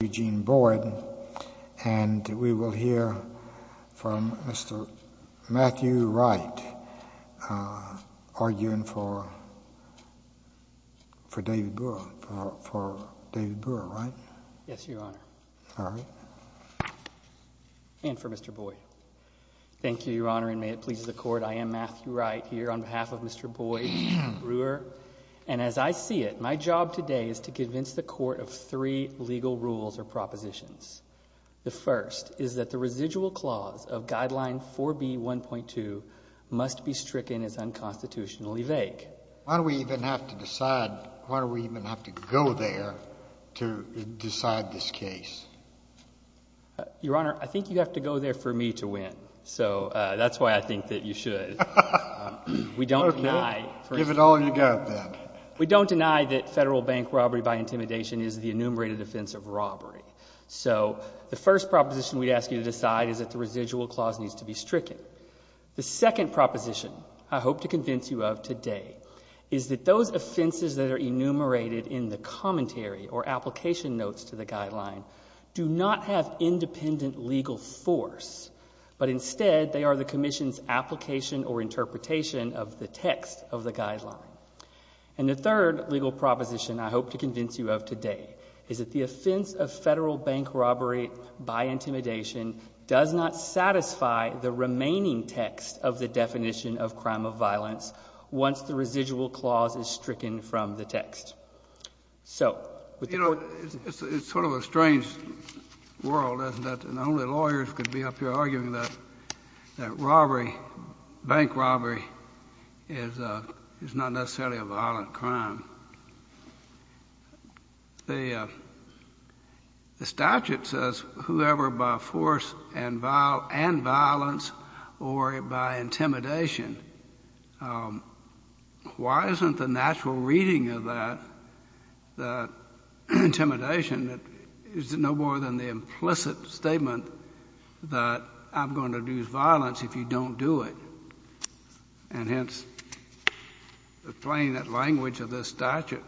Eugene Boyd, and we will hear from Mr. Matthew Wright arguing for David Brewer, right? Yes, Your Honor. All right. And for Mr. Boyd. Thank you, Your Honor, and may it please the Court, I am Matthew Wright here on behalf of Mr. Boyd Brewer. And as I see it, my job today is to convince the Court of three legal rules or propositions. The first is that the residual clause of Guideline 4B1.2 must be stricken as unconstitutionally vague. Why do we even have to decide – why do we even have to go there to decide this case? Your Honor, I think you have to go there for me to win, so that's why I think that you should. Okay. Give it all you got then. We don't deny that federal bank robbery by intimidation is the enumerated offense of robbery. So the first proposition we ask you to decide is that the residual clause needs to be stricken. The second proposition I hope to convince you of today is that those offenses that are enumerated in the commentary or application notes to the guideline do not have independent legal force, but instead they are the commission's application or interpretation of the text of the guideline. And the third legal proposition I hope to convince you of today is that the offense of federal bank robbery by intimidation does not satisfy the remaining text of the definition of crime of violence once the residual clause is stricken from the text. It's sort of a strange world, isn't it? And only lawyers could be up here arguing that robbery, bank robbery, is not necessarily a violent crime. The statute says whoever by force and violence or by intimidation. Why isn't the natural reading of that intimidation that is no more than the implicit statement that I'm going to use violence if you don't do it? And hence, the plain language of this statute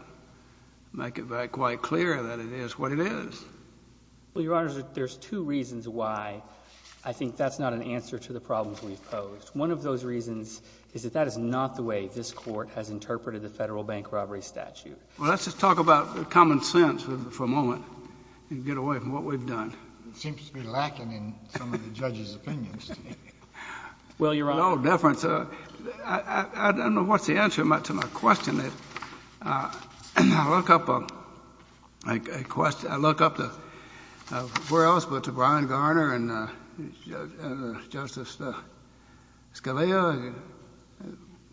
makes it quite clear that it is what it is. Well, Your Honor, there's two reasons why I think that's not an answer to the problems we've posed. One of those reasons is that that is not the way this Court has interpreted the federal bank robbery statute. Well, let's just talk about common sense for a moment and get away from what we've done. It seems to be lacking in some of the judge's opinions. No difference. I don't know what's the answer to my question. I look up a question. I look up to where else but to Brian Garner and Justice Scalia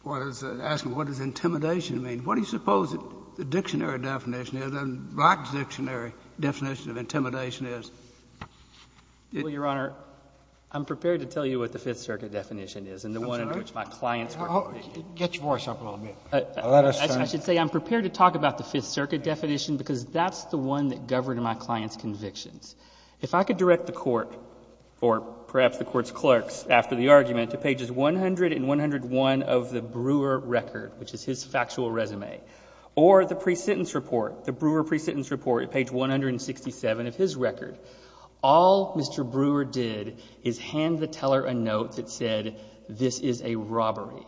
was asking what does intimidation mean? What do you suppose the dictionary definition is, the black dictionary definition of intimidation is? Well, Your Honor, I'm prepared to tell you what the Fifth Circuit definition is and the one in which my clients work with. Get your voice up a little bit. I should say I'm prepared to talk about the Fifth Circuit definition because that's the one that governed my client's convictions. If I could direct the Court or perhaps the Court's clerks after the argument to pages 100 and 101 of the Brewer record, which is his factual resume, or the pre-sentence report, the Brewer pre-sentence report at page 167 of his record, all Mr. Brewer did is hand the teller a note that said this is a robbery.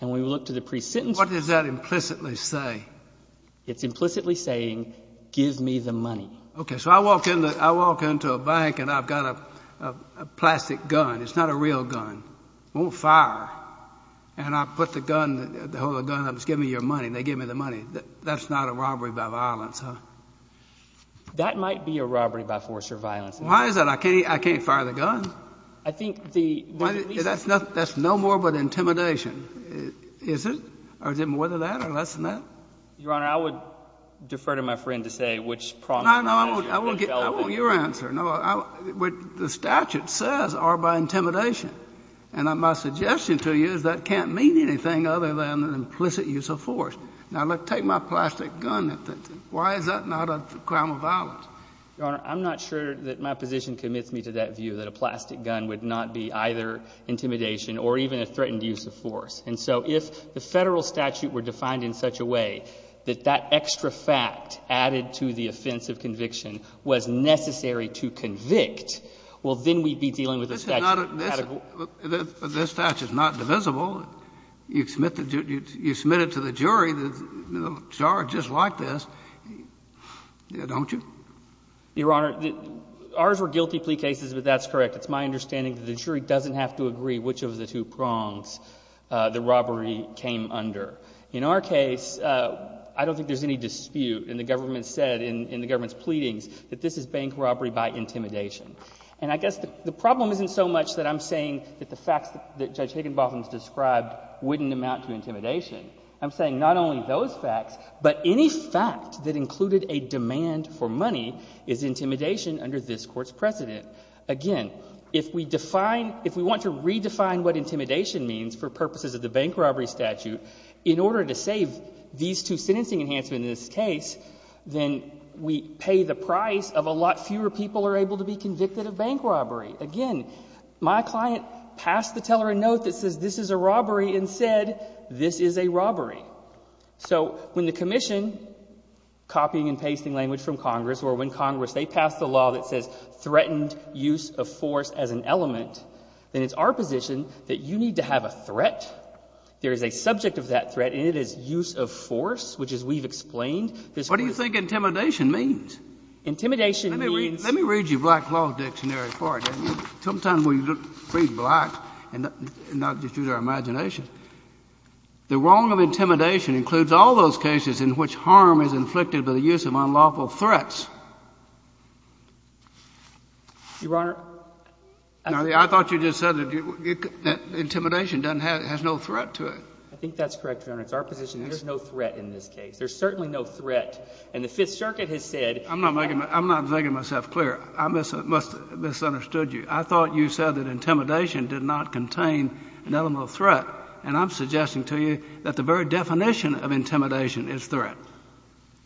And when we look to the pre-sentence report. What does that implicitly say? It's implicitly saying give me the money. Okay. So I walk into a bank and I've got a plastic gun. It's not a real gun. It won't fire. And I put the gun, hold the gun up and say give me your money, and they give me the money. That's not a robbery by violence, huh? That might be a robbery by force or violence. Why is that? I can't fire the gun. I think the reason. That's no more but intimidation, is it? Or is it more than that or less than that? Your Honor, I would defer to my friend to say which problem he's developing. No, no. I want your answer. What the statute says are by intimidation. And my suggestion to you is that can't mean anything other than an implicit use of force. Now, look, take my plastic gun. Why is that not a crime of violence? Your Honor, I'm not sure that my position commits me to that view, that a plastic gun would not be either intimidation or even a threatened use of force. And so if the federal statute were defined in such a way that that extra fact added to the offense of conviction was necessary to convict, well, then we'd be dealing with a statute. This statute is not divisible. You submit it to the jury, the charge is like this, don't you? Your Honor, ours were guilty plea cases, but that's correct. It's my understanding that the jury doesn't have to agree which of the two prongs the robbery came under. In our case, I don't think there's any dispute. And the government said in the government's pleadings that this is bank robbery by intimidation. And I guess the problem isn't so much that I'm saying that the facts that Judge Higginbotham has described wouldn't amount to intimidation. I'm saying not only those facts, but any fact that included a demand for money is intimidation under this Court's precedent. Again, if we define – if we want to redefine what intimidation means for purposes of the bank robbery statute, in order to save these two sentencing enhancements in this case, then we pay the price of a lot fewer people are able to be convicted of bank robbery. Again, my client passed the teller a note that says this is a robbery and said this is a robbery. So when the Commission, copying and pasting language from Congress, or when Congress, they pass the law that says threatened use of force as an element, then it's our position that you need to have a threat. There is a subject of that threat, and it is use of force, which as we've explained, this Court— What do you think intimidation means? Intimidation means— Let me read your Black Law Dictionary for you. Sometimes when you read Black, and I'll just use our imagination, the wrong of intimidation includes all those cases in which harm is inflicted by the use of unlawful threats. Your Honor— I thought you just said intimidation has no threat to it. I think that's correct, Your Honor. It's our position there's no threat in this case. There's certainly no threat. And the Fifth Circuit has said— I'm not making myself clear. I must have misunderstood you. I thought you said that intimidation did not contain an element of threat, and I'm suggesting to you that the very definition of intimidation is threat.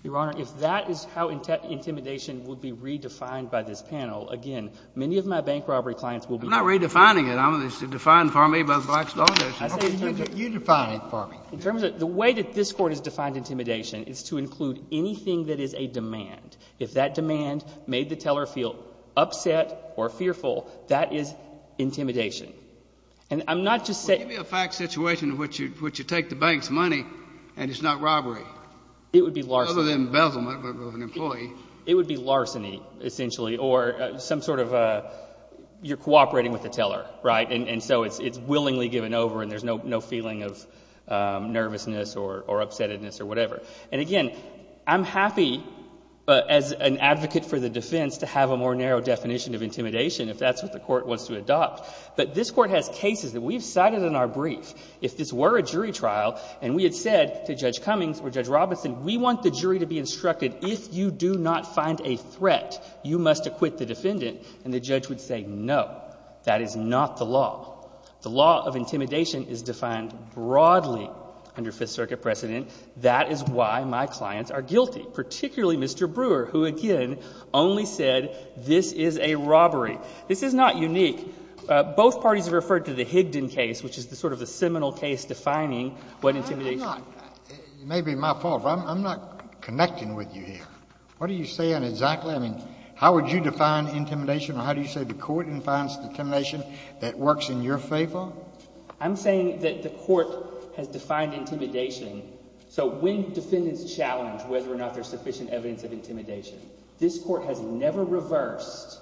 Your Honor, if that is how intimidation would be redefined by this panel, again, many of my bank robbery clients will be— I'm not redefining it. It's defined for me by the Black's Law Dictionary. You define it for me. The way that this Court has defined intimidation is to include anything that is a demand. If that demand made the teller feel upset or fearful, that is intimidation. And I'm not just saying— Well, give me a fact situation in which you take the bank's money and it's not robbery. It would be larceny. Other than embezzlement of an employee. It would be larceny, essentially, or some sort of you're cooperating with the teller, right? And so it's willingly given over and there's no feeling of nervousness or upsetness or whatever. And again, I'm happy as an advocate for the defense to have a more narrow definition of intimidation if that's what the Court wants to adopt. But this Court has cases that we've cited in our brief. If this were a jury trial and we had said to Judge Cummings or Judge Robinson, we want the jury to be instructed if you do not find a threat, you must acquit the defendant, and the judge would say, no, that is not the law. The law of intimidation is defined broadly under Fifth Circuit precedent. That is why my clients are guilty, particularly Mr. Brewer, who, again, only said this is a robbery. This is not unique. Both parties have referred to the Higdon case, which is sort of the seminal case defining what intimidation is. It may be my fault, but I'm not connecting with you here. What are you saying exactly? I mean, how would you define intimidation or how do you say the Court defines intimidation that works in your favor? I'm saying that the Court has defined intimidation. So when defendants challenge whether or not there's sufficient evidence of intimidation, this Court has never reversed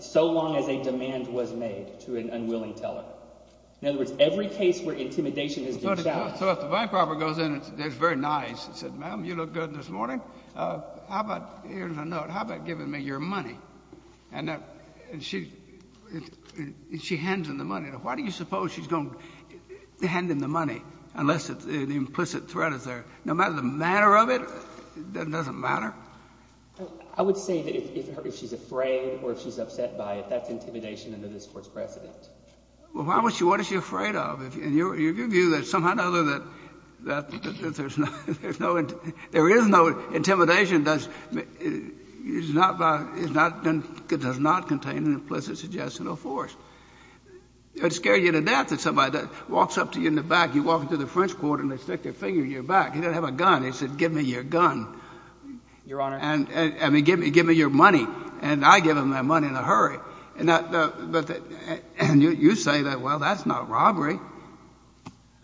so long as a demand was made to an unwilling teller. In other words, every case where intimidation has been challenged— So if the bank robber goes in and is very nice and says, ma'am, you look good this morning, how about, here's a note, how about giving me your money? And she hands him the money. Why do you suppose she's going to hand him the money unless the implicit threat is there? No matter the manner of it, that doesn't matter? I would say that if she's afraid or if she's upset by it, that's intimidation under this Court's precedent. Well, why would she? What is she afraid of? And your view is somehow or another that there is no intimidation that does not contain an implicit suggestional force. It would scare you to death if somebody walks up to you in the back, you walk into the French Quarter and they stick their finger in your back. He doesn't have a gun. He said, give me your gun. Your Honor. I mean, give me your money. And I give him that money in a hurry. And you say that, well, that's not robbery.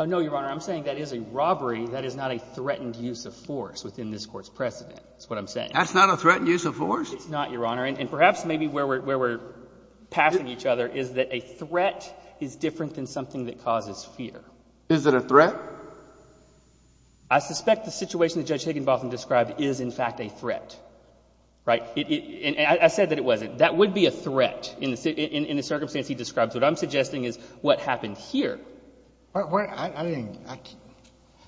No, Your Honor. I'm saying that is a robbery that is not a threatened use of force within this Court's precedent, is what I'm saying. That's not a threatened use of force? It's not, Your Honor. And perhaps maybe where we're passing each other is that a threat is different than something that causes fear. Is it a threat? I suspect the situation that Judge Higginbotham described is, in fact, a threat, right? And I said that it wasn't. That would be a threat in the circumstance he describes. What I'm suggesting is what happened here. I didn't.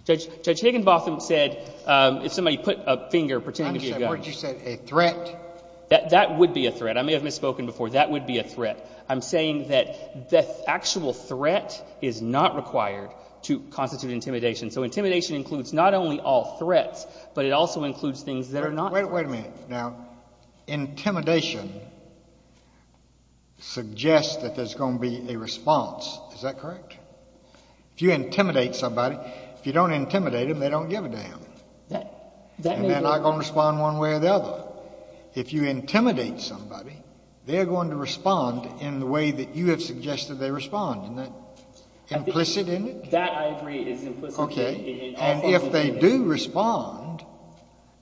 Judge Higginbotham said if somebody put a finger pretending to be a gun. I'm saying, what did you say, a threat? That would be a threat. I may have misspoken before. That would be a threat. I'm saying that the actual threat is not required to constitute intimidation. So intimidation includes not only all threats, but it also includes things that are not. Wait a minute. Now, intimidation suggests that there's going to be a response. Is that correct? If you intimidate somebody, if you don't intimidate them, they don't give a damn. And they're not going to respond one way or the other. If you intimidate somebody, they're going to respond in the way that you have suggested they respond. Isn't that implicit in it? That, I agree, is implicit. Okay. And if they do respond,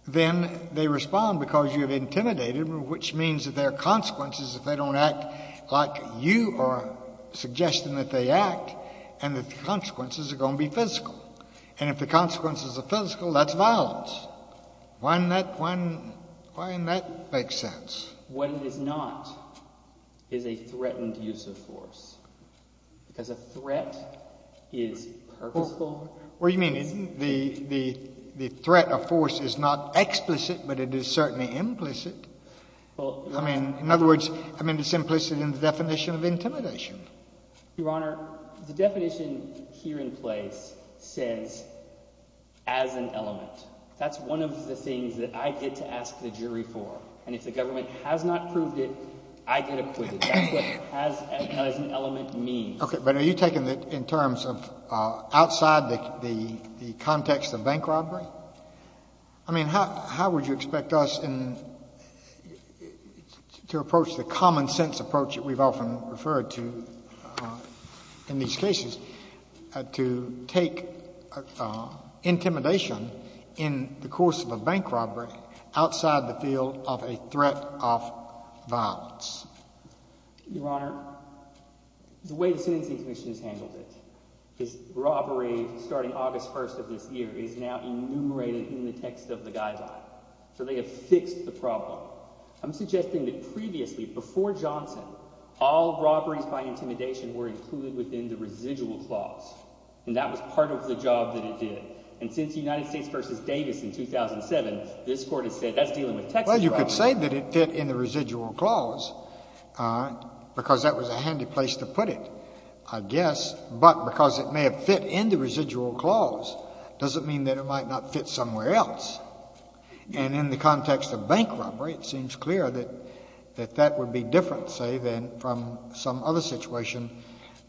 then they respond because you have intimidated them, which means that there are consequences if they don't act like you are suggesting that they act, and the consequences are going to be physical. And if the consequences are physical, that's violence. Why doesn't that make sense? What it is not is a threatened use of force, because a threat is purposeful. What do you mean? The threat of force is not explicit, but it is certainly implicit. I mean, in other words, I mean it's implicit in the definition of intimidation. Your Honor, the definition here in place says as an element. That's one of the things that I get to ask the jury for. And if the government has not proved it, I get acquitted. That's what as an element means. Okay. But are you taking it in terms of outside the context of bank robbery? I mean, how would you expect us to approach the common sense approach that we've often referred to in these cases to take intimidation in the course of a bank robbery outside the field of a threat of violence? Your Honor, the way the Sentencing Commission has handled it is robbery starting August 1st of this year is now enumerated in the text of the guideline. So they have fixed the problem. I'm suggesting that previously, before Johnson, all robberies by intimidation were included within the residual clause. And that was part of the job that it did. And since the United States v. Davis in 2007, this court has said that's dealing with textual robbery. Well, you could say that it fit in the residual clause because that was a handy place to put it, I guess. But because it may have fit in the residual clause doesn't mean that it might not fit somewhere else. And in the context of bank robbery, it seems clear that that would be different, say, than from some other situation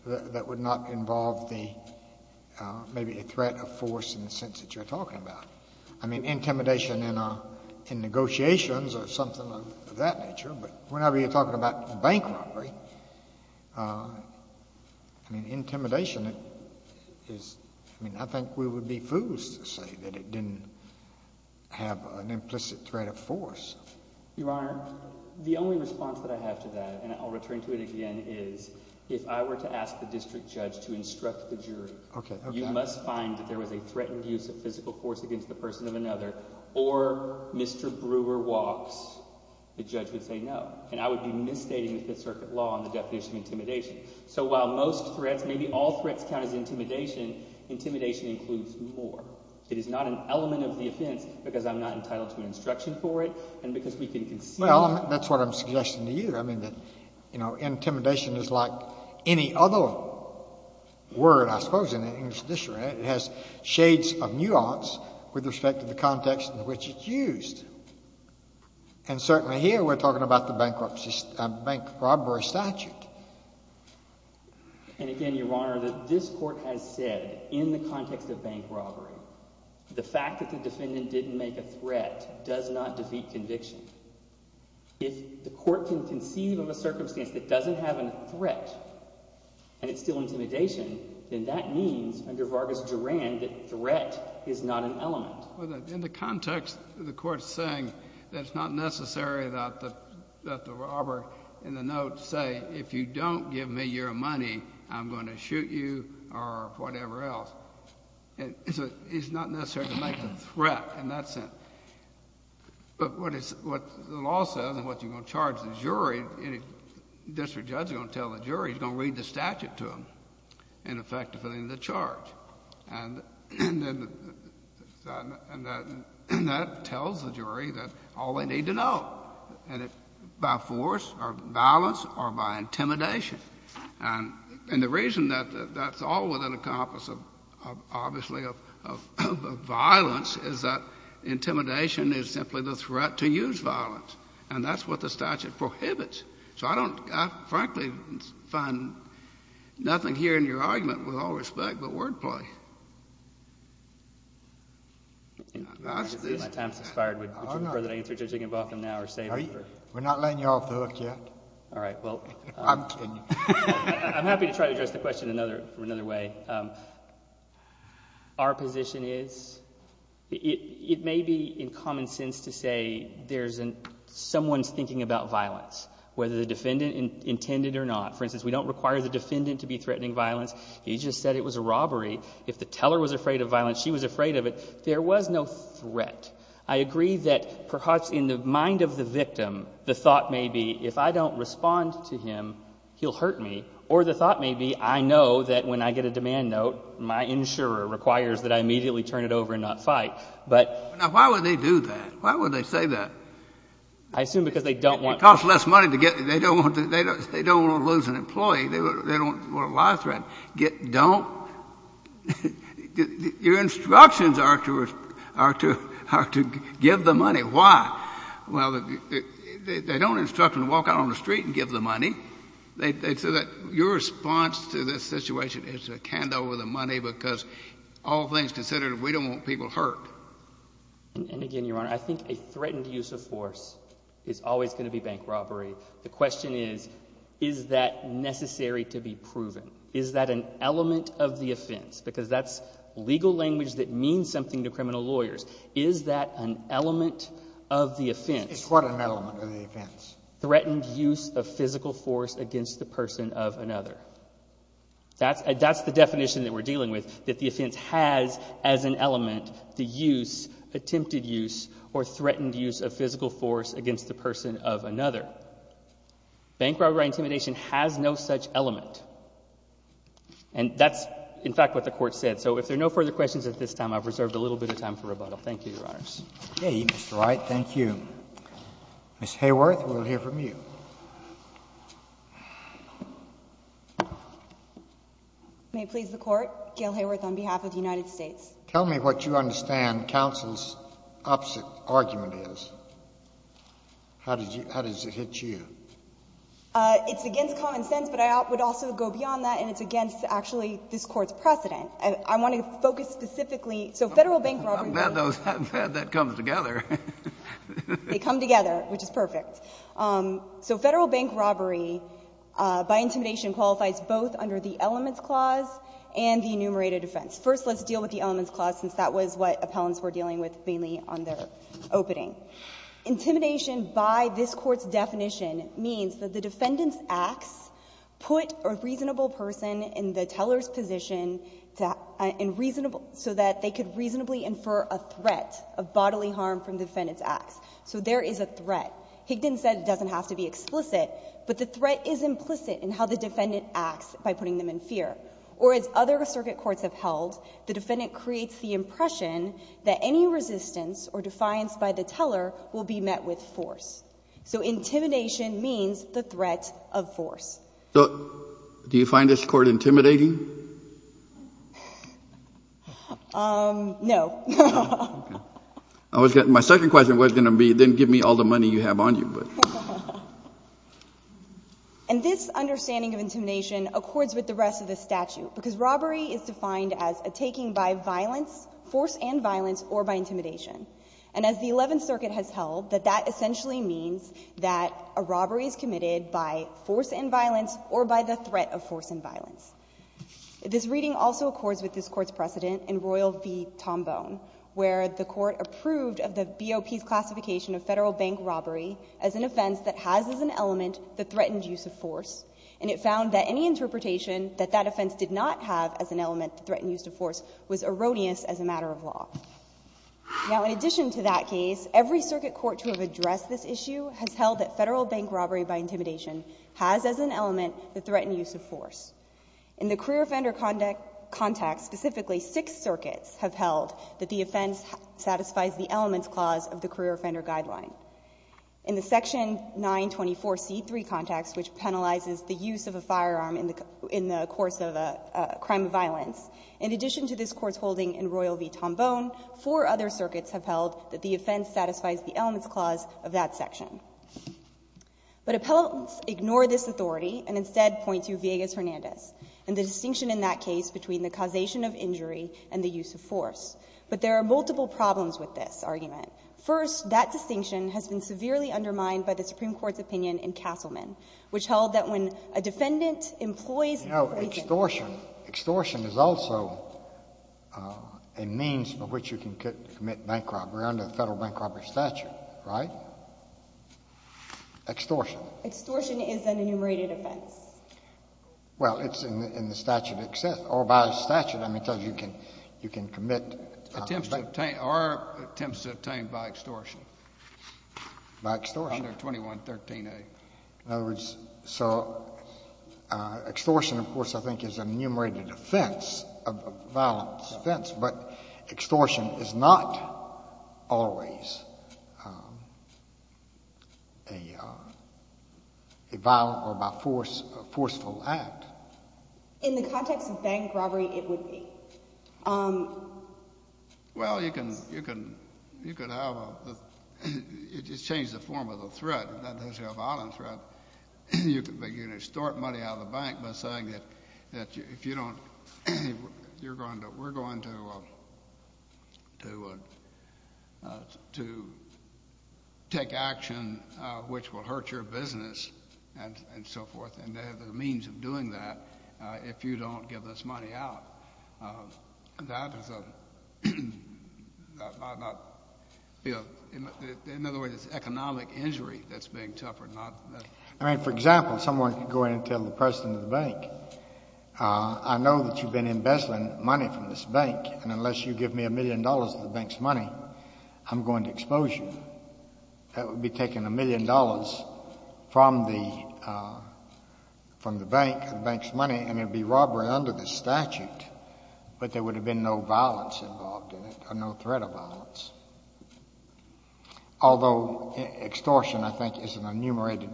that would not involve the, maybe a threat of force in the sense that you're talking about. I mean, intimidation in negotiations or something of that nature. But whenever you're talking about bank robbery, I mean, intimidation is, I mean, I think we would be fools to say that it didn't have an implicit threat of force. Your Honor, the only response that I have to that, and I'll return to it again, is if I were to ask the district judge to instruct the jury, you must find that there was a threatened use of physical force against the person of another, or Mr. Brewer walks. The judge would say no. And I would be misstating the Fifth Circuit law on the definition of intimidation. So while most threats, maybe all threats count as intimidation, intimidation includes more. It is not an element of the offense because I'm not entitled to an instruction for it and because we can consider— Well, that's what I'm suggesting to you. I mean, intimidation is like any other word, I suppose, in the English tradition, right? It has shades of nuance with respect to the context in which it's used. And certainly here we're talking about the bank robbery statute. And again, Your Honor, this Court has said in the context of bank robbery the fact that the defendant didn't make a threat does not defeat conviction. If the Court can conceive of a circumstance that doesn't have a threat and it's still intimidation, then that means under Vargas-Durand that threat is not an element. In the context, the Court is saying that it's not necessary that the robber in the note say, if you don't give me your money, I'm going to shoot you or whatever else. It's not necessary to make a threat in that sense. But what the law says and what you're going to charge the jury, any district judge is going to tell the jury, he's going to read the statute to them in effect to fill in the charge. And that tells the jury that all they need to know, and by force or violence or by intimidation. And the reason that that's all within the compass of, obviously, of violence is that intimidation is simply the threat to use violence. And that's what the statute prohibits. So I don't, frankly, find nothing here in your argument with all respect but wordplay. My time has expired. Would you prefer that I answer Judge Higginbotham now or save it for later? We're not letting you off the hook yet. All right. I'm kidding. I'm happy to try to address the question another way. Our position is it may be in common sense to say there's someone's thinking about violence, whether the defendant intended or not. For instance, we don't require the defendant to be threatening violence. He just said it was a robbery. If the teller was afraid of violence, she was afraid of it. There was no threat. I agree that perhaps in the mind of the victim, the thought may be if I don't respond to him, he'll hurt me. Or the thought may be I know that when I get a demand note, my insurer requires that I immediately turn it over and not fight. But — Now, why would they do that? Why would they say that? I assume because they don't want to. It costs less money to get — they don't want to lose an employee. They don't want a life threat. Your instructions are to give the money. Why? Well, they don't instruct you to walk out on the street and give the money. They say that your response to this situation is to hand over the money because all things considered, we don't want people hurt. And again, Your Honor, I think a threatened use of force is always going to be bank robbery. The question is, is that necessary to be proven? Is that an element of the offense? Because that's legal language that means something to criminal lawyers. Is that an element of the offense? It's what an element of the offense? Threatened use of physical force against the person of another. That's the definition that we're dealing with, that the offense has as an element the use, attempted use, or threatened use of physical force against the person of another. Bank robbery intimidation has no such element. And that's, in fact, what the Court said. So if there are no further questions at this time, I've reserved a little bit of time for rebuttal. Thank you, Your Honors. Okay, Mr. Wright. Thank you. Ms. Hayworth, we'll hear from you. May it please the Court. Gail Hayworth on behalf of the United States. Tell me what you understand counsel's opposite argument is. How does it hit you? It's against common sense, but I would also go beyond that. And it's against, actually, this Court's precedent. I want to focus specifically. So Federal bank robbery. I'm glad that comes together. They come together, which is perfect. So Federal bank robbery by intimidation qualifies both under the elements clause and the enumerated offense. First, let's deal with the elements clause, since that was what appellants were dealing with mainly on their opening. Intimidation by this Court's definition means that the defendant's acts put a reasonable person in the teller's position so that they could reasonably infer a threat of bodily harm from the defendant's acts. So there is a threat. Higdon said it doesn't have to be explicit, but the threat is implicit in how the defendant acts by putting them in fear. Or as other circuit courts have held, the defendant creates the impression that any resistance or defiance by the teller will be met with force. So intimidation means the threat of force. So do you find this Court intimidating? No. My second question was going to be, then give me all the money you have on you. And this understanding of intimidation accords with the rest of the statute, because robbery is defined as a taking by violence, force and violence, or by intimidation. And as the Eleventh Circuit has held, that that essentially means that a robbery is committed by force and violence or by the threat of force and violence. This reading also accords with this Court's precedent in Royal v. Tombone, where the Court approved of the BOP's classification of Federal bank robbery as an offense that has as an element the threatened use of force. And it found that any interpretation that that offense did not have as an element the threatened use of force was erroneous as a matter of law. Now, in addition to that case, every circuit court to have addressed this issue has held that Federal bank robbery by intimidation has as an element the threatened use of force. In the career offender context, specifically six circuits have held that the offense satisfies the elements clause of the career offender guideline. In the section 924C3 context, which penalizes the use of a firearm in the course of a crime of violence, in addition to this Court's holding in Royal v. Tombone, four other circuits have held that the offense satisfies the elements clause of that section. But appellants ignore this authority and instead point to Villegas-Hernandez and the distinction in that case between the causation of injury and the use of force. But there are multiple problems with this argument. First, that distinction has been severely undermined by the Supreme Court's opinion in Castleman, which held that when a defendant employs a police officer to commit bank robbery. Scalia. Extortion is also a means by which you can commit bank robbery under the Federal Bank Robbery Statute, right? Extortion. Extortion is an enumerated offense. Well, it's in the statute itself, or by statute, I mean, because you can commit Attempts to obtain or attempts to obtain by extortion. By extortion. Under 2113A. In other words, so extortion, of course, I think is an enumerated offense, a violent offense, but extortion is not always a violent or by force, a forceful act. In the context of bank robbery, it would be. Well, you can have a, you just change the form of the threat. That is a violent threat. You can extort money out of the bank by saying that if you don't, you're going to, we're going to take action which will hurt your business and so forth. And there are means of doing that if you don't give this money out. That is a, in other words, it's economic injury that's being suffered, not. I mean, for example, someone can go in and tell the president of the bank, I know that you've been embezzling money from this bank, and unless you give me a million dollars of the bank's money, I'm going to expose you. That would be taking a million dollars from the bank, the bank's money, and it would be robbery under the statute. But there would have been no violence involved in it or no threat of violence. Although extortion, I think, is an enumerated,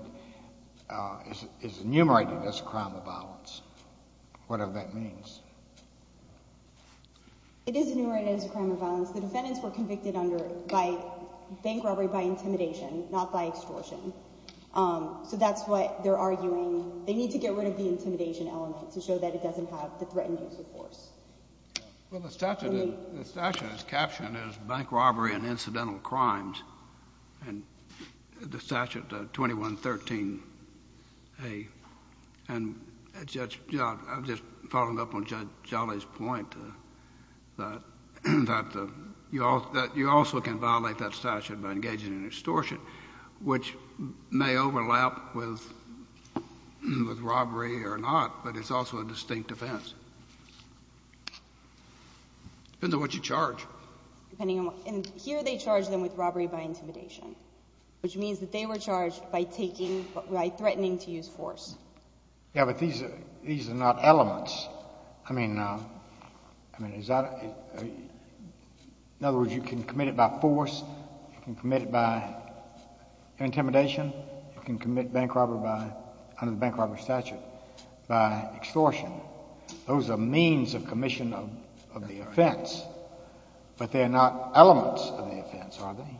is enumerated as a crime of violence, whatever that means. It is enumerated as a crime of violence. The defendants were convicted under, by bank robbery by intimidation, not by extortion. So that's what they're arguing. They need to get rid of the intimidation element to show that it doesn't have the threatened use of force. Well, the statute is captioned as bank robbery and incidental crimes. And the statute, 2113A, and Judge Jolly, I'm just following up on Judge Jolly's point, that you also can violate that statute by engaging in extortion, which may overlap with robbery or not, but it's also a distinct offense. Depends on what you charge. And here they charge them with robbery by intimidation, which means that they were charged by taking, by threatening to use force. Yeah, but these are not elements. I mean, is that, in other words, you can commit it by force, you can commit it by intimidation, you can commit bank robbery by, under the bank robbery statute, by extortion. Those are means of commission of the offense. But they're not elements of the offense, are they?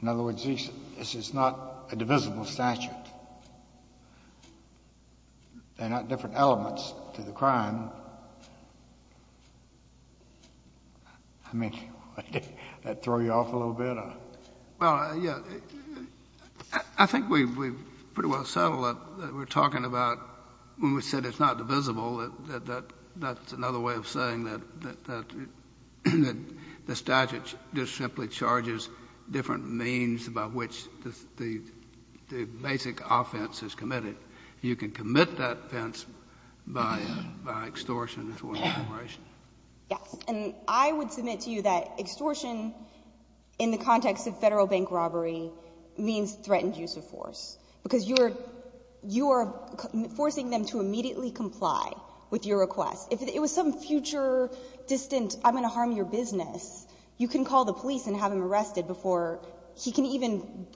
In other words, this is not a divisible statute. They're not different elements to the crime. I mean, did that throw you off a little bit? Well, yeah. I think we've pretty well settled that we're talking about, when we said it's not divisible, that that's another way of saying that the statute just simply charges different means by which the basic offense is committed. You can commit that offense by extortion. Yes. And I would submit to you that extortion, in the context of federal bank robbery, means threatened use of force, because you are forcing them to immediately comply with your request. If it was some future, distant, I'm going to harm your business, you can call the police and have him arrested before he can even,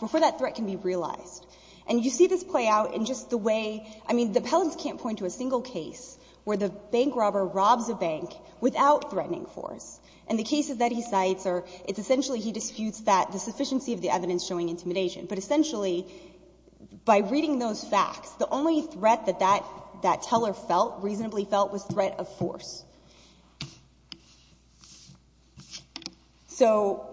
before that threat can be realized. And you see this play out in just the way, I mean, the appellants can't point to a single case where the bank robber robs a bank without threatening force. And the cases that he cites are, it's essentially he disputes that, the sufficiency of the evidence showing intimidation. But essentially, by reading those facts, the only threat that that teller felt, reasonably felt, was threat of force. So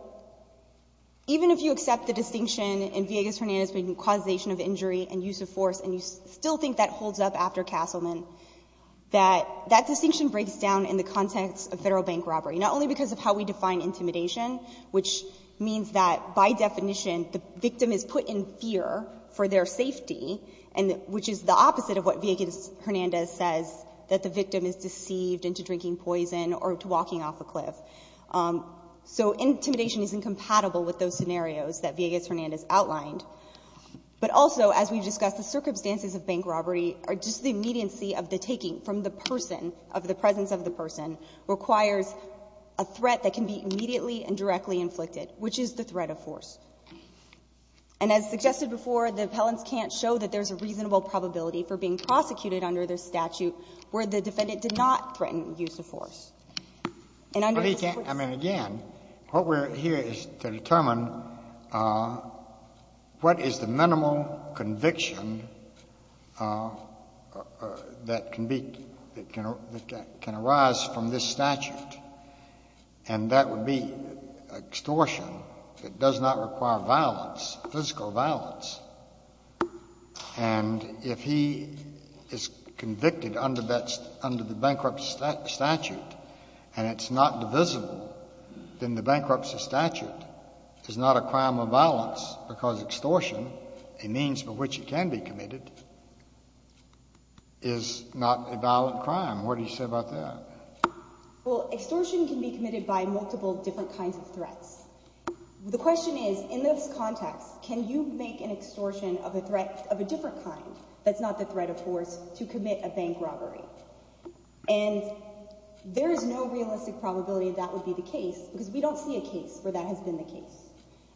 even if you accept the distinction in Villegas-Hernandez between causation of injury and use of force, and you still think that holds up after Castleman, that that distinction breaks down in the context of federal bank robbery, not only because of how we define intimidation, which means that, by definition, the victim is put in fear for their safety, which is the opposite of what Villegas-Hernandez says, that the victim is deceived into drinking poison or to walking off a cliff. So intimidation is incompatible with those scenarios that Villegas-Hernandez outlined. But also, as we've discussed, the circumstances of bank robbery are just the immediacy of the taking from the person, of the presence of the person, requires a threat that can be immediately and directly inflicted, which is the threat of force. And as suggested before, the appellants can't show that there's a reasonable probability for being prosecuted under their statute where the defendant did not threaten use of force. I mean, again, what we're here is to determine what is the minimal conviction that can be, that can arise from this statute, and that would be extortion. It does not require violence, physical violence. And if he is convicted under the bankruptcy statute and it's not divisible, then the bankruptcy statute is not a crime of violence because extortion, a means by which it can be committed, is not a violent crime. What do you say about that? Well, extortion can be committed by multiple different kinds of threats. The question is, in this context, can you make an extortion of a different kind that's not the threat of force to commit a bank robbery? And there is no realistic probability that would be the case because we don't see a case where that has been the case.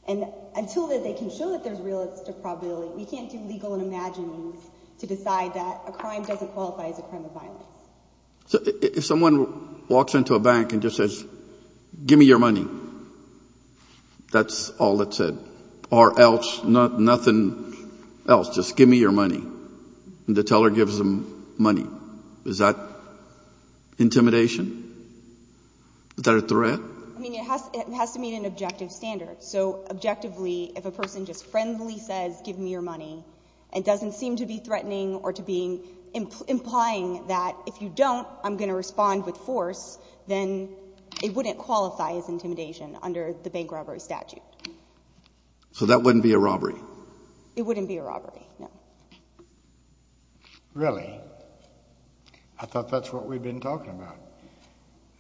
And until they can show that there's realistic probability, we can't do legal and imagined means to decide that a crime doesn't qualify as a crime of violence. If someone walks into a bank and just says, give me your money, that's all it said, or else nothing else, just give me your money, and the teller gives them money, is that intimidation? Is that a threat? I mean, it has to meet an objective standard. So objectively, if a person just friendly says, give me your money, and doesn't seem to be threatening or to be implying that if you don't, I'm going to respond with force, then it wouldn't qualify as intimidation under the bank robbery statute. So that wouldn't be a robbery? It wouldn't be a robbery, no. Really? I thought that's what we've been talking about,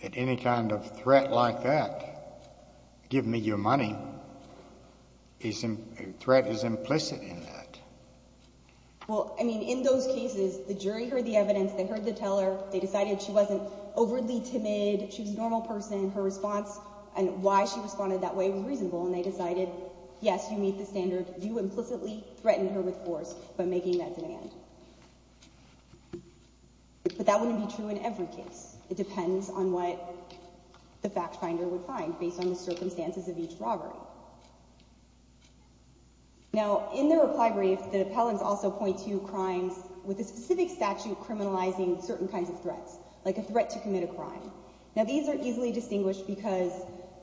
that any kind of threat like that, give me your money, a threat is implicit in that. Well, I mean, in those cases, the jury heard the evidence, they heard the teller, they decided she wasn't overly timid, she was a normal person, her response and why she responded that way was reasonable, and they decided, yes, you meet the standard, you implicitly threatened her with force by making that demand. But that wouldn't be true in every case. It depends on what the fact finder would find, based on the circumstances of each robbery. Now, in the reply brief, the appellants also point to crimes with a specific statute criminalizing certain kinds of threats, like a threat to commit a crime. Now, these are easily distinguished because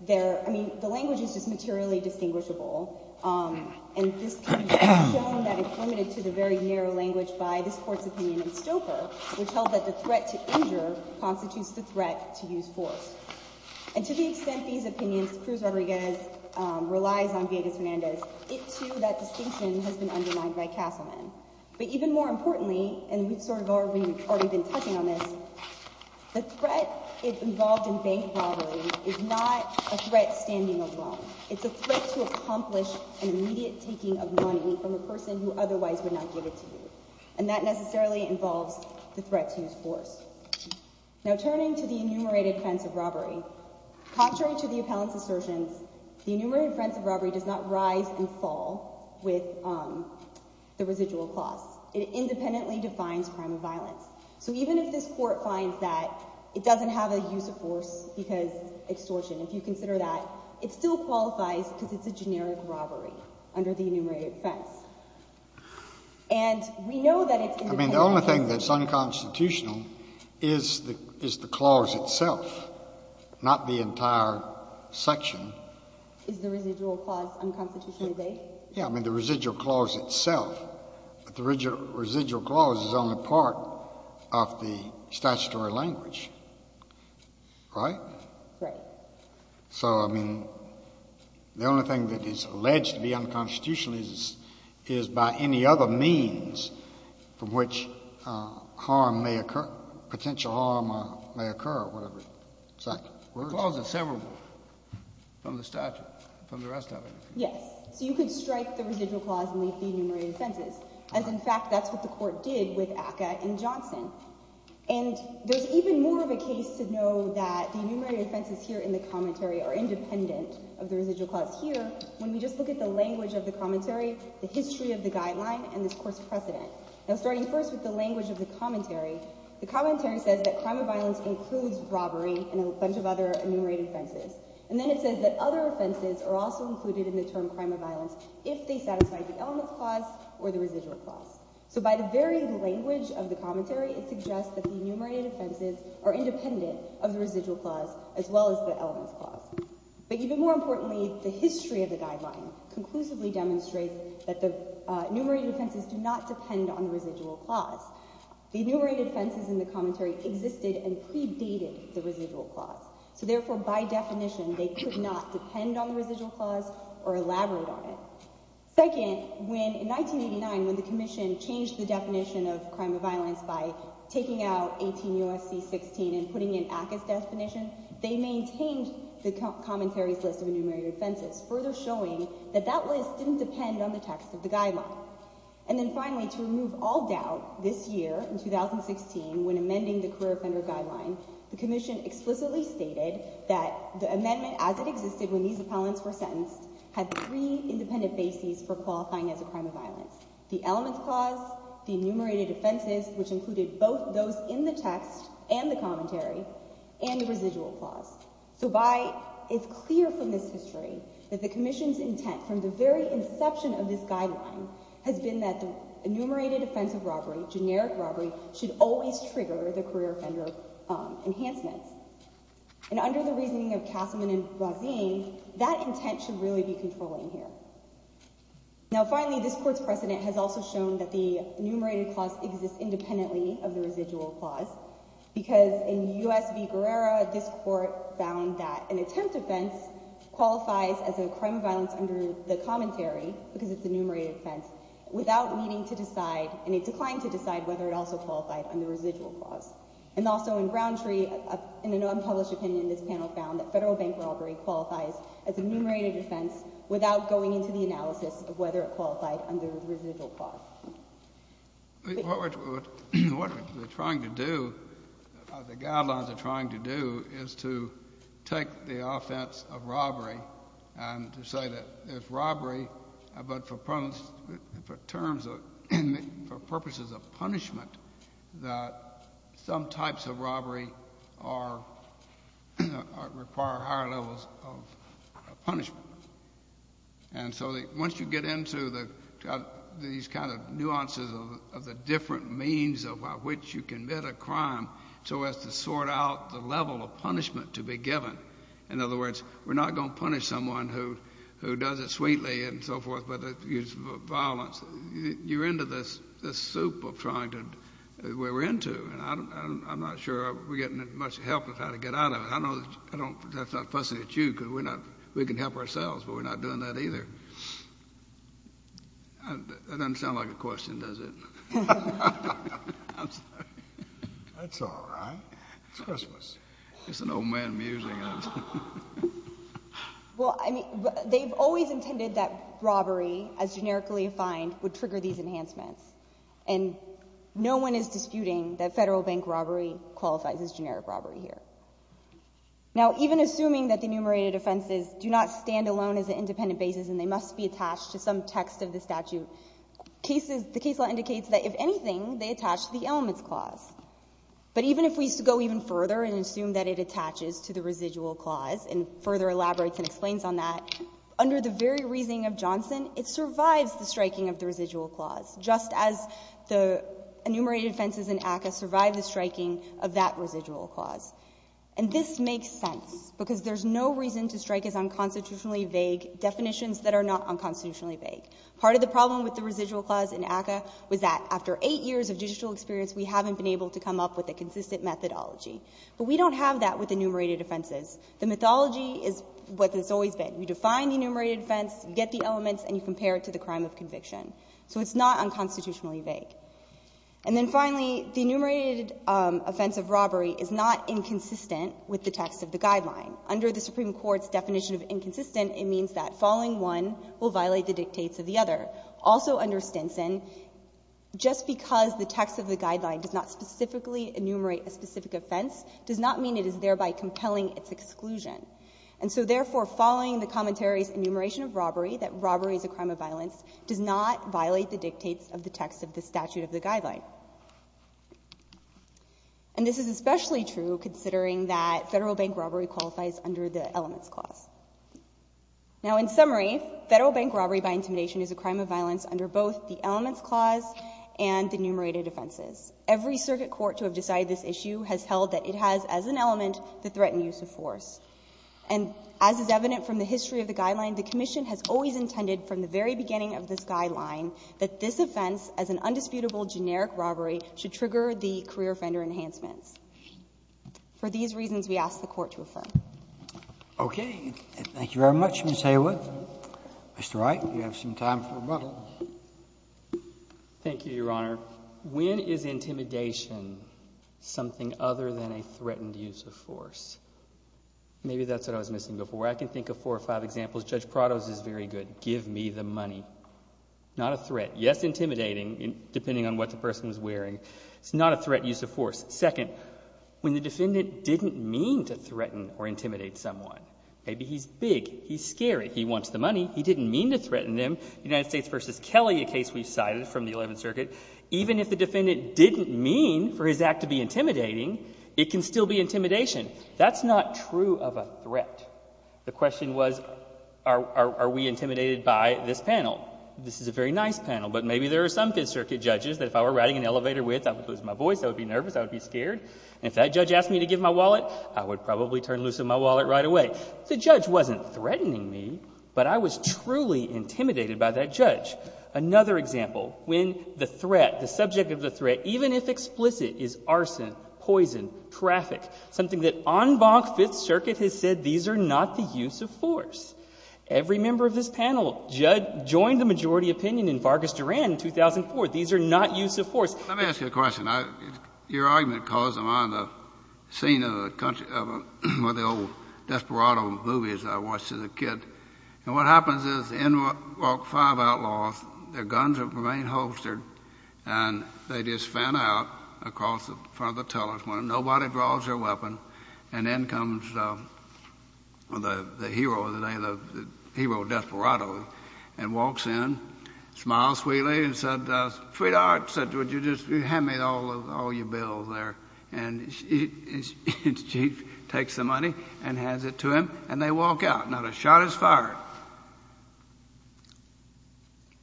they're – I mean, the language is just materially distinguishable, and this can be shown that it's limited to the very narrow language by this Court's opinion in Stoker, which held that the threat to injure constitutes the threat to use force. And to the extent these opinions, Cruz Rodriguez relies on Villegas-Hernandez, it, too, that distinction has been undermined by Castleman. But even more importantly, and we've sort of already been touching on this, the threat involved in bank robbery is not a threat standing alone. It's a threat to accomplish an immediate taking of money from a person who otherwise would not give it to you. And that necessarily involves the threat to use force. Now, turning to the enumerated offense of robbery, contrary to the appellant's assertions, the enumerated offense of robbery does not rise and fall with the residual costs. It independently defines crime of violence. So even if this Court finds that it doesn't have a use of force because extortion, if you consider that, it still qualifies because it's a generic robbery under the enumerated offense. And we know that it's independently defined. I mean, the only thing that's unconstitutional is the clause itself, not the entire section. Is the residual clause unconstitutionally vague? Yeah. I mean, the residual clause itself. But the residual clause is only part of the statutory language, right? Right. So, I mean, the only thing that is alleged to be unconstitutional is by any other means from which harm may occur, potential harm may occur or whatever. The clause is severable from the statute, from the rest of it. Yes. So you could strike the residual clause and leave the enumerated offenses, as in fact that's what the Court did with ACCA and Johnson. And there's even more of a case to know that the enumerated offenses here in the commentary are independent of the residual clause here. When we just look at the language of the commentary, the history of the guideline, and this Court's precedent. Now starting first with the language of the commentary, the commentary says that crime of violence includes robbery and a bunch of other enumerated offenses. And then it says that other offenses are also included in the term crime of violence if they satisfy the elements clause or the residual clause. So by the very language of the commentary, it suggests that the enumerated offenses are independent of the residual clause as well as the elements clause. But even more importantly, the history of the guideline conclusively demonstrates that the enumerated offenses do not depend on the residual clause. The enumerated offenses in the commentary existed and predated the residual clause. So therefore, by definition, they could not depend on the residual clause or elaborate on it. Second, in 1989, when the Commission changed the definition of crime of violence by taking out 18 U.S.C. 16 and putting in ACCA's definition, they maintained the commentary's list of enumerated offenses, further showing that that list didn't depend on the text of the guideline. And then finally, to remove all doubt, this year, in 2016, when amending the career offender guideline, the Commission explicitly stated that the amendment as it existed when these appellants were sentenced had three independent bases for qualifying as a crime of violence. The elements clause, the enumerated offenses, which included both those in the text and the commentary, and the residual clause. So it's clear from this history that the Commission's intent from the very inception of this guideline has been that the enumerated offense of robbery, generic robbery, should always trigger the career offender enhancements. And under the reasoning of Kassaman and Brazin, that intent should really be controlling here. Now finally, this Court's precedent has also shown that the enumerated clause exists independently of the residual clause because in U.S. v. Guerrero, this Court found that an attempt offense qualifies as a crime of violence under the commentary, because it's an enumerated offense, without needing to decide, and it declined to decide, whether it also qualified under the residual clause. And also in Browntree, in an unpublished opinion, this panel found that federal bank robbery qualifies as an enumerated offense without going into the analysis of whether it qualified under the residual clause. What we're trying to do, the guidelines are trying to do, is to take the offense of robbery and to say that if robbery, but for purposes of punishment, that some types of robbery require higher levels of punishment. And so once you get into these kind of nuances of the different means by which you commit a crime, so as to sort out the level of punishment to be given, in other words, we're not going to punish someone who does it sweetly and so forth, but it's violence. You're into this soup of trying to, we're into, and I'm not sure we're getting much help with how to get out of it. I know that's not fussing at you, because we're not, we can help ourselves, but we're not doing that either. That doesn't sound like a question, does it? I'm sorry. That's all right. It's Christmas. It's an old man musing. Well, I mean, they've always intended that robbery, as generically defined, would trigger these enhancements. And no one is disputing that federal bank robbery qualifies as generic robbery here. Now, even assuming that the enumerated offenses do not stand alone as an independent basis and they must be attached to some text of the statute, the case law indicates that, if anything, they attach to the elements clause. But even if we go even further and assume that it attaches to the residual clause and further elaborates and explains on that, under the very reasoning of Johnson, it survives the striking of the residual clause, just as the enumerated offenses in ACCA survive the striking of that residual clause. And this makes sense, because there's no reason to strike as unconstitutionally vague definitions that are not unconstitutionally vague. Part of the problem with the residual clause in ACCA was that, after eight years of judicial experience, we haven't been able to come up with a consistent methodology. But we don't have that with enumerated offenses. The mythology is what it's always been. You define the enumerated offense, you get the elements, and you compare it to the crime of conviction. So it's not unconstitutionally vague. And then finally, the enumerated offense of robbery is not inconsistent with the text of the Guideline. Under the Supreme Court's definition of inconsistent, it means that following one will violate the dictates of the other. Also under Stinson, just because the text of the Guideline does not specifically enumerate a specific offense does not mean it is thereby compelling its exclusion. And so therefore, following the commentaries enumeration of robbery, that robbery is a crime of violence, does not violate the dictates of the text of the statute of the Guideline. And this is especially true considering that federal bank robbery qualifies under the elements clause. Now in summary, federal bank robbery by intimidation is a crime of violence under both the elements clause and the enumerated offenses. Every circuit court to have decided this issue has held that it has, as an element, the threat and use of force. And as is evident from the history of the Guideline, the Commission has always intended, from the very beginning of this Guideline, that this offense, as an undisputable generic robbery, should trigger the career offender enhancements. For these reasons, we ask the Court to refer. Okay. Thank you very much, Ms. Haywood. Mr. Wright, you have some time for rebuttal. Thank you, Your Honor. When is intimidation something other than a threatened use of force? Maybe that's what I was missing before. I can think of four or five examples. Judge Prado's is very good. Give me the money. Not a threat. Yes, intimidating, depending on what the person is wearing. It's not a threat use of force. Second, when the defendant didn't mean to threaten or intimidate someone, maybe he's big, he's scary, he wants the money, he didn't mean to threaten him. United States v. Kelly, a case we've cited from the Eleventh Circuit, even if the defendant didn't mean for his act to be intimidating, it can still be intimidation. That's not true of a threat. The question was, are we intimidated by this panel? This is a very nice panel, but maybe there are some Fifth Circuit judges that if I were riding an elevator with, I would lose my voice, I would be nervous, I would be scared. And if that judge asked me to give my wallet, I would probably turn loose with my wallet right away. The judge wasn't threatening me, but I was truly intimidated by that judge. Another example, when the threat, the subject of the threat, even if explicit, is arson, poison, traffic, something that en banc Fifth Circuit has said, these are not the use of force. Every member of this panel joined the majority opinion in Vargas Duran in 2004. These are not use of force. Let me ask you a question. Your argument caused a scene in the country of one of the old desperado movies I watched as a kid. And what happens is the NWOC 5 outlaws, their guns remain holstered, and they just fan out across the front of the teller's window. Nobody draws their weapon. And then comes the hero of the day, the hero desperado, and walks in, smiles sweetly, and said, Frida, you just hand me all your bills there. And she takes the money and hands it to him, and they walk out. Now, the shot is fired.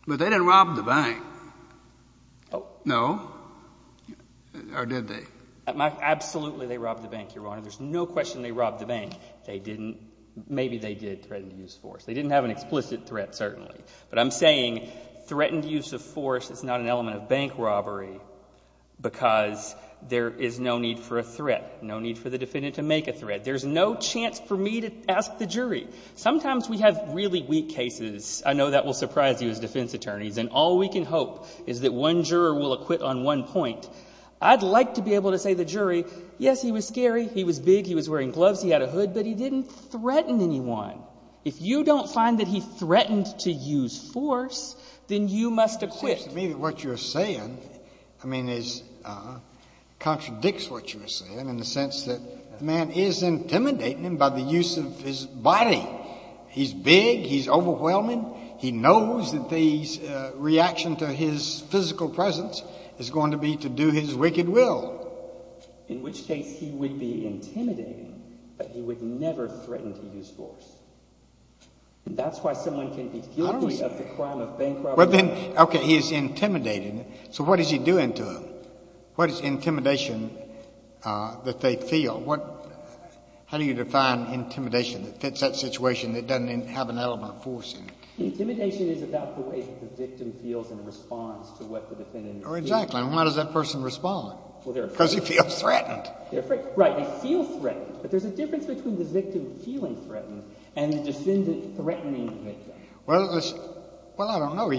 But they didn't rob the bank. No? Or did they? Absolutely they robbed the bank, Your Honor. There's no question they robbed the bank. They didn't. Maybe they did threaten to use force. They didn't have an explicit threat, certainly. But I'm saying threatened use of force is not an element of bank robbery, because there is no need for a threat, no need for the defendant to make a threat. There's no chance for me to ask the jury. Sometimes we have really weak cases. I know that will surprise you as defense attorneys. And all we can hope is that one juror will acquit on one point. I'd like to be able to say to the jury, yes, he was scary. He was big. He was wearing gloves. He had a hood. But he didn't threaten anyone. If you don't find that he threatened to use force, then you must acquit. It seems to me that what you're saying, I mean, contradicts what you're saying in the sense that the man is intimidating him by the use of his body. He's big. He's overwhelming. He knows that the reaction to his physical presence is going to be to do his wicked will. In which case he would be intimidating, but he would never threaten to use force. And that's why someone can be guilty of the crime of bank robbery. Okay. He is intimidating. So what is he doing to him? What is intimidation that they feel? How do you define intimidation that fits that situation that doesn't have an element of force in it? Intimidation is about the way that the victim feels in response to what the defendant is doing. Exactly. And why does that person respond? Because he feels threatened. Right. He feels threatened. But there's a difference between the victim feeling threatened and the defendant threatening the victim. Well, I don't know.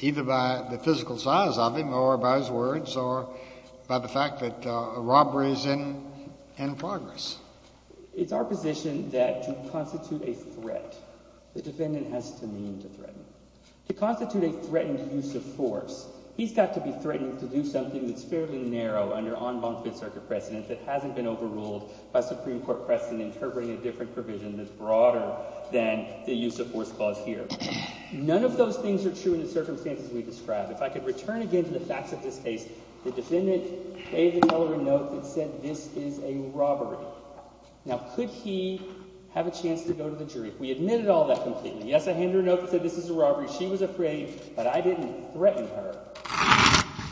either by the physical size of him or by his words or by the fact that a robbery is in progress. It's our position that to constitute a threat, the defendant has to mean to threaten. To constitute a threatened use of force, he's got to be threatened to do something that's fairly narrow under en banc Fifth Circuit precedent that hasn't been overruled by Supreme Court precedent interpreting a different provision that's broader than the use of force clause here. None of those things are true in the circumstances we described. If I could return again to the facts of this case, the defendant gave the dealer a note that said, this is a robbery. Now, could he have a chance to go to the jury? We admitted all that completely. Yes, I handed her a note that said, this is a robbery. She was afraid. But I didn't threaten her.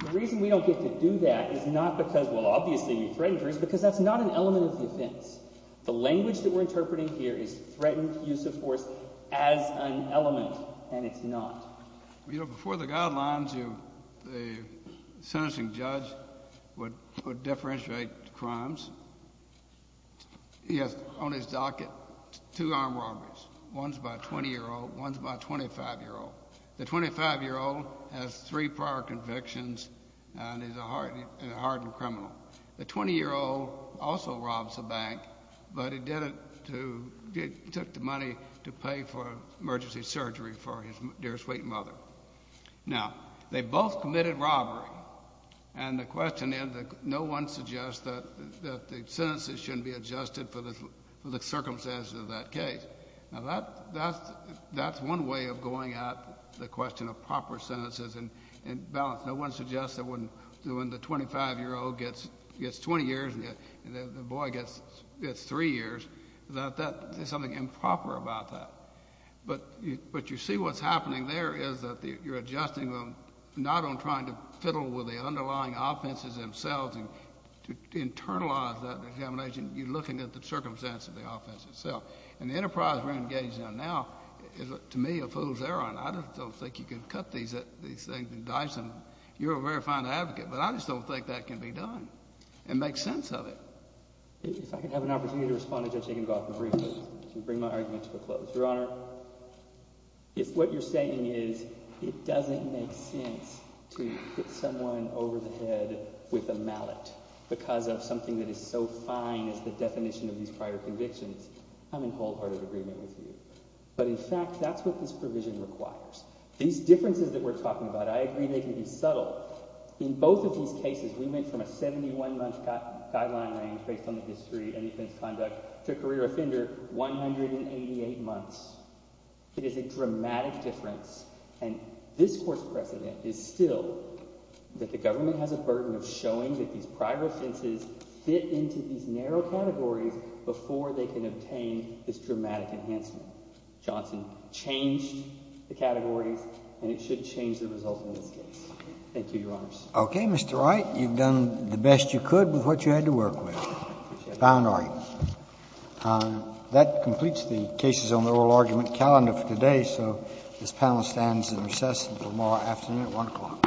The reason we don't get to do that is not because, well, obviously, we threatened her. It's because that's not an element of defense. The language that we're interpreting here is threatened use of force as an element. And it's not. You know, before the guidelines, the sentencing judge would differentiate the crimes. He has on his docket two armed robbers. One's about 20-year-old. One's about 25-year-old. The 25-year-old has three prior convictions and is a hardened criminal. The 20-year-old also robs a bank, but he took the money to pay for emergency surgery for his dear sweet mother. Now, they both committed robbery. And the question is that no one suggests that the sentences shouldn't be adjusted for the circumstances of that case. Now, that's one way of going at the question of proper sentences and balance. No one suggests that when the 25-year-old gets 20 years and the boy gets three years, that there's something improper about that. But you see what's happening there is that you're adjusting them not on trying to fiddle with the underlying offenses themselves and to internalize that examination. You're looking at the circumstance of the offense itself. And the enterprise we're engaged in now is, to me, a fool's errand. I don't think you can cut these things and dice them. You're a very fine advocate, but I just don't think that can be done. It makes sense of it. If I can have an opportunity to respond to Judge Higginbotham briefly and bring my argument to a close. Your Honor, if what you're saying is it doesn't make sense to hit someone over the head with a mallet because of something that is so fine as the definition of these prior convictions, I'm in wholehearted agreement with you. But in fact, that's what this provision requires. These differences that we're talking about, I agree they can be subtle. In both of these cases, we went from a 71-month guideline range based on the history and offense conduct to a career offender, 188 months. It is a dramatic difference. And this Court's precedent is still that the government has a burden of showing that these prior offenses fit into these narrow categories before they can obtain this dramatic enhancement. Johnson changed the categories, and it should change the results in this case. Thank you, Your Honors. OK, Mr. Wright. You've done the best you could with what you had to work with. I appreciate it. Thank you, Mr. Wright. That completes the cases on the oral argument calendar for today. So this panel stands in recess until tomorrow afternoon at 1 o'clock.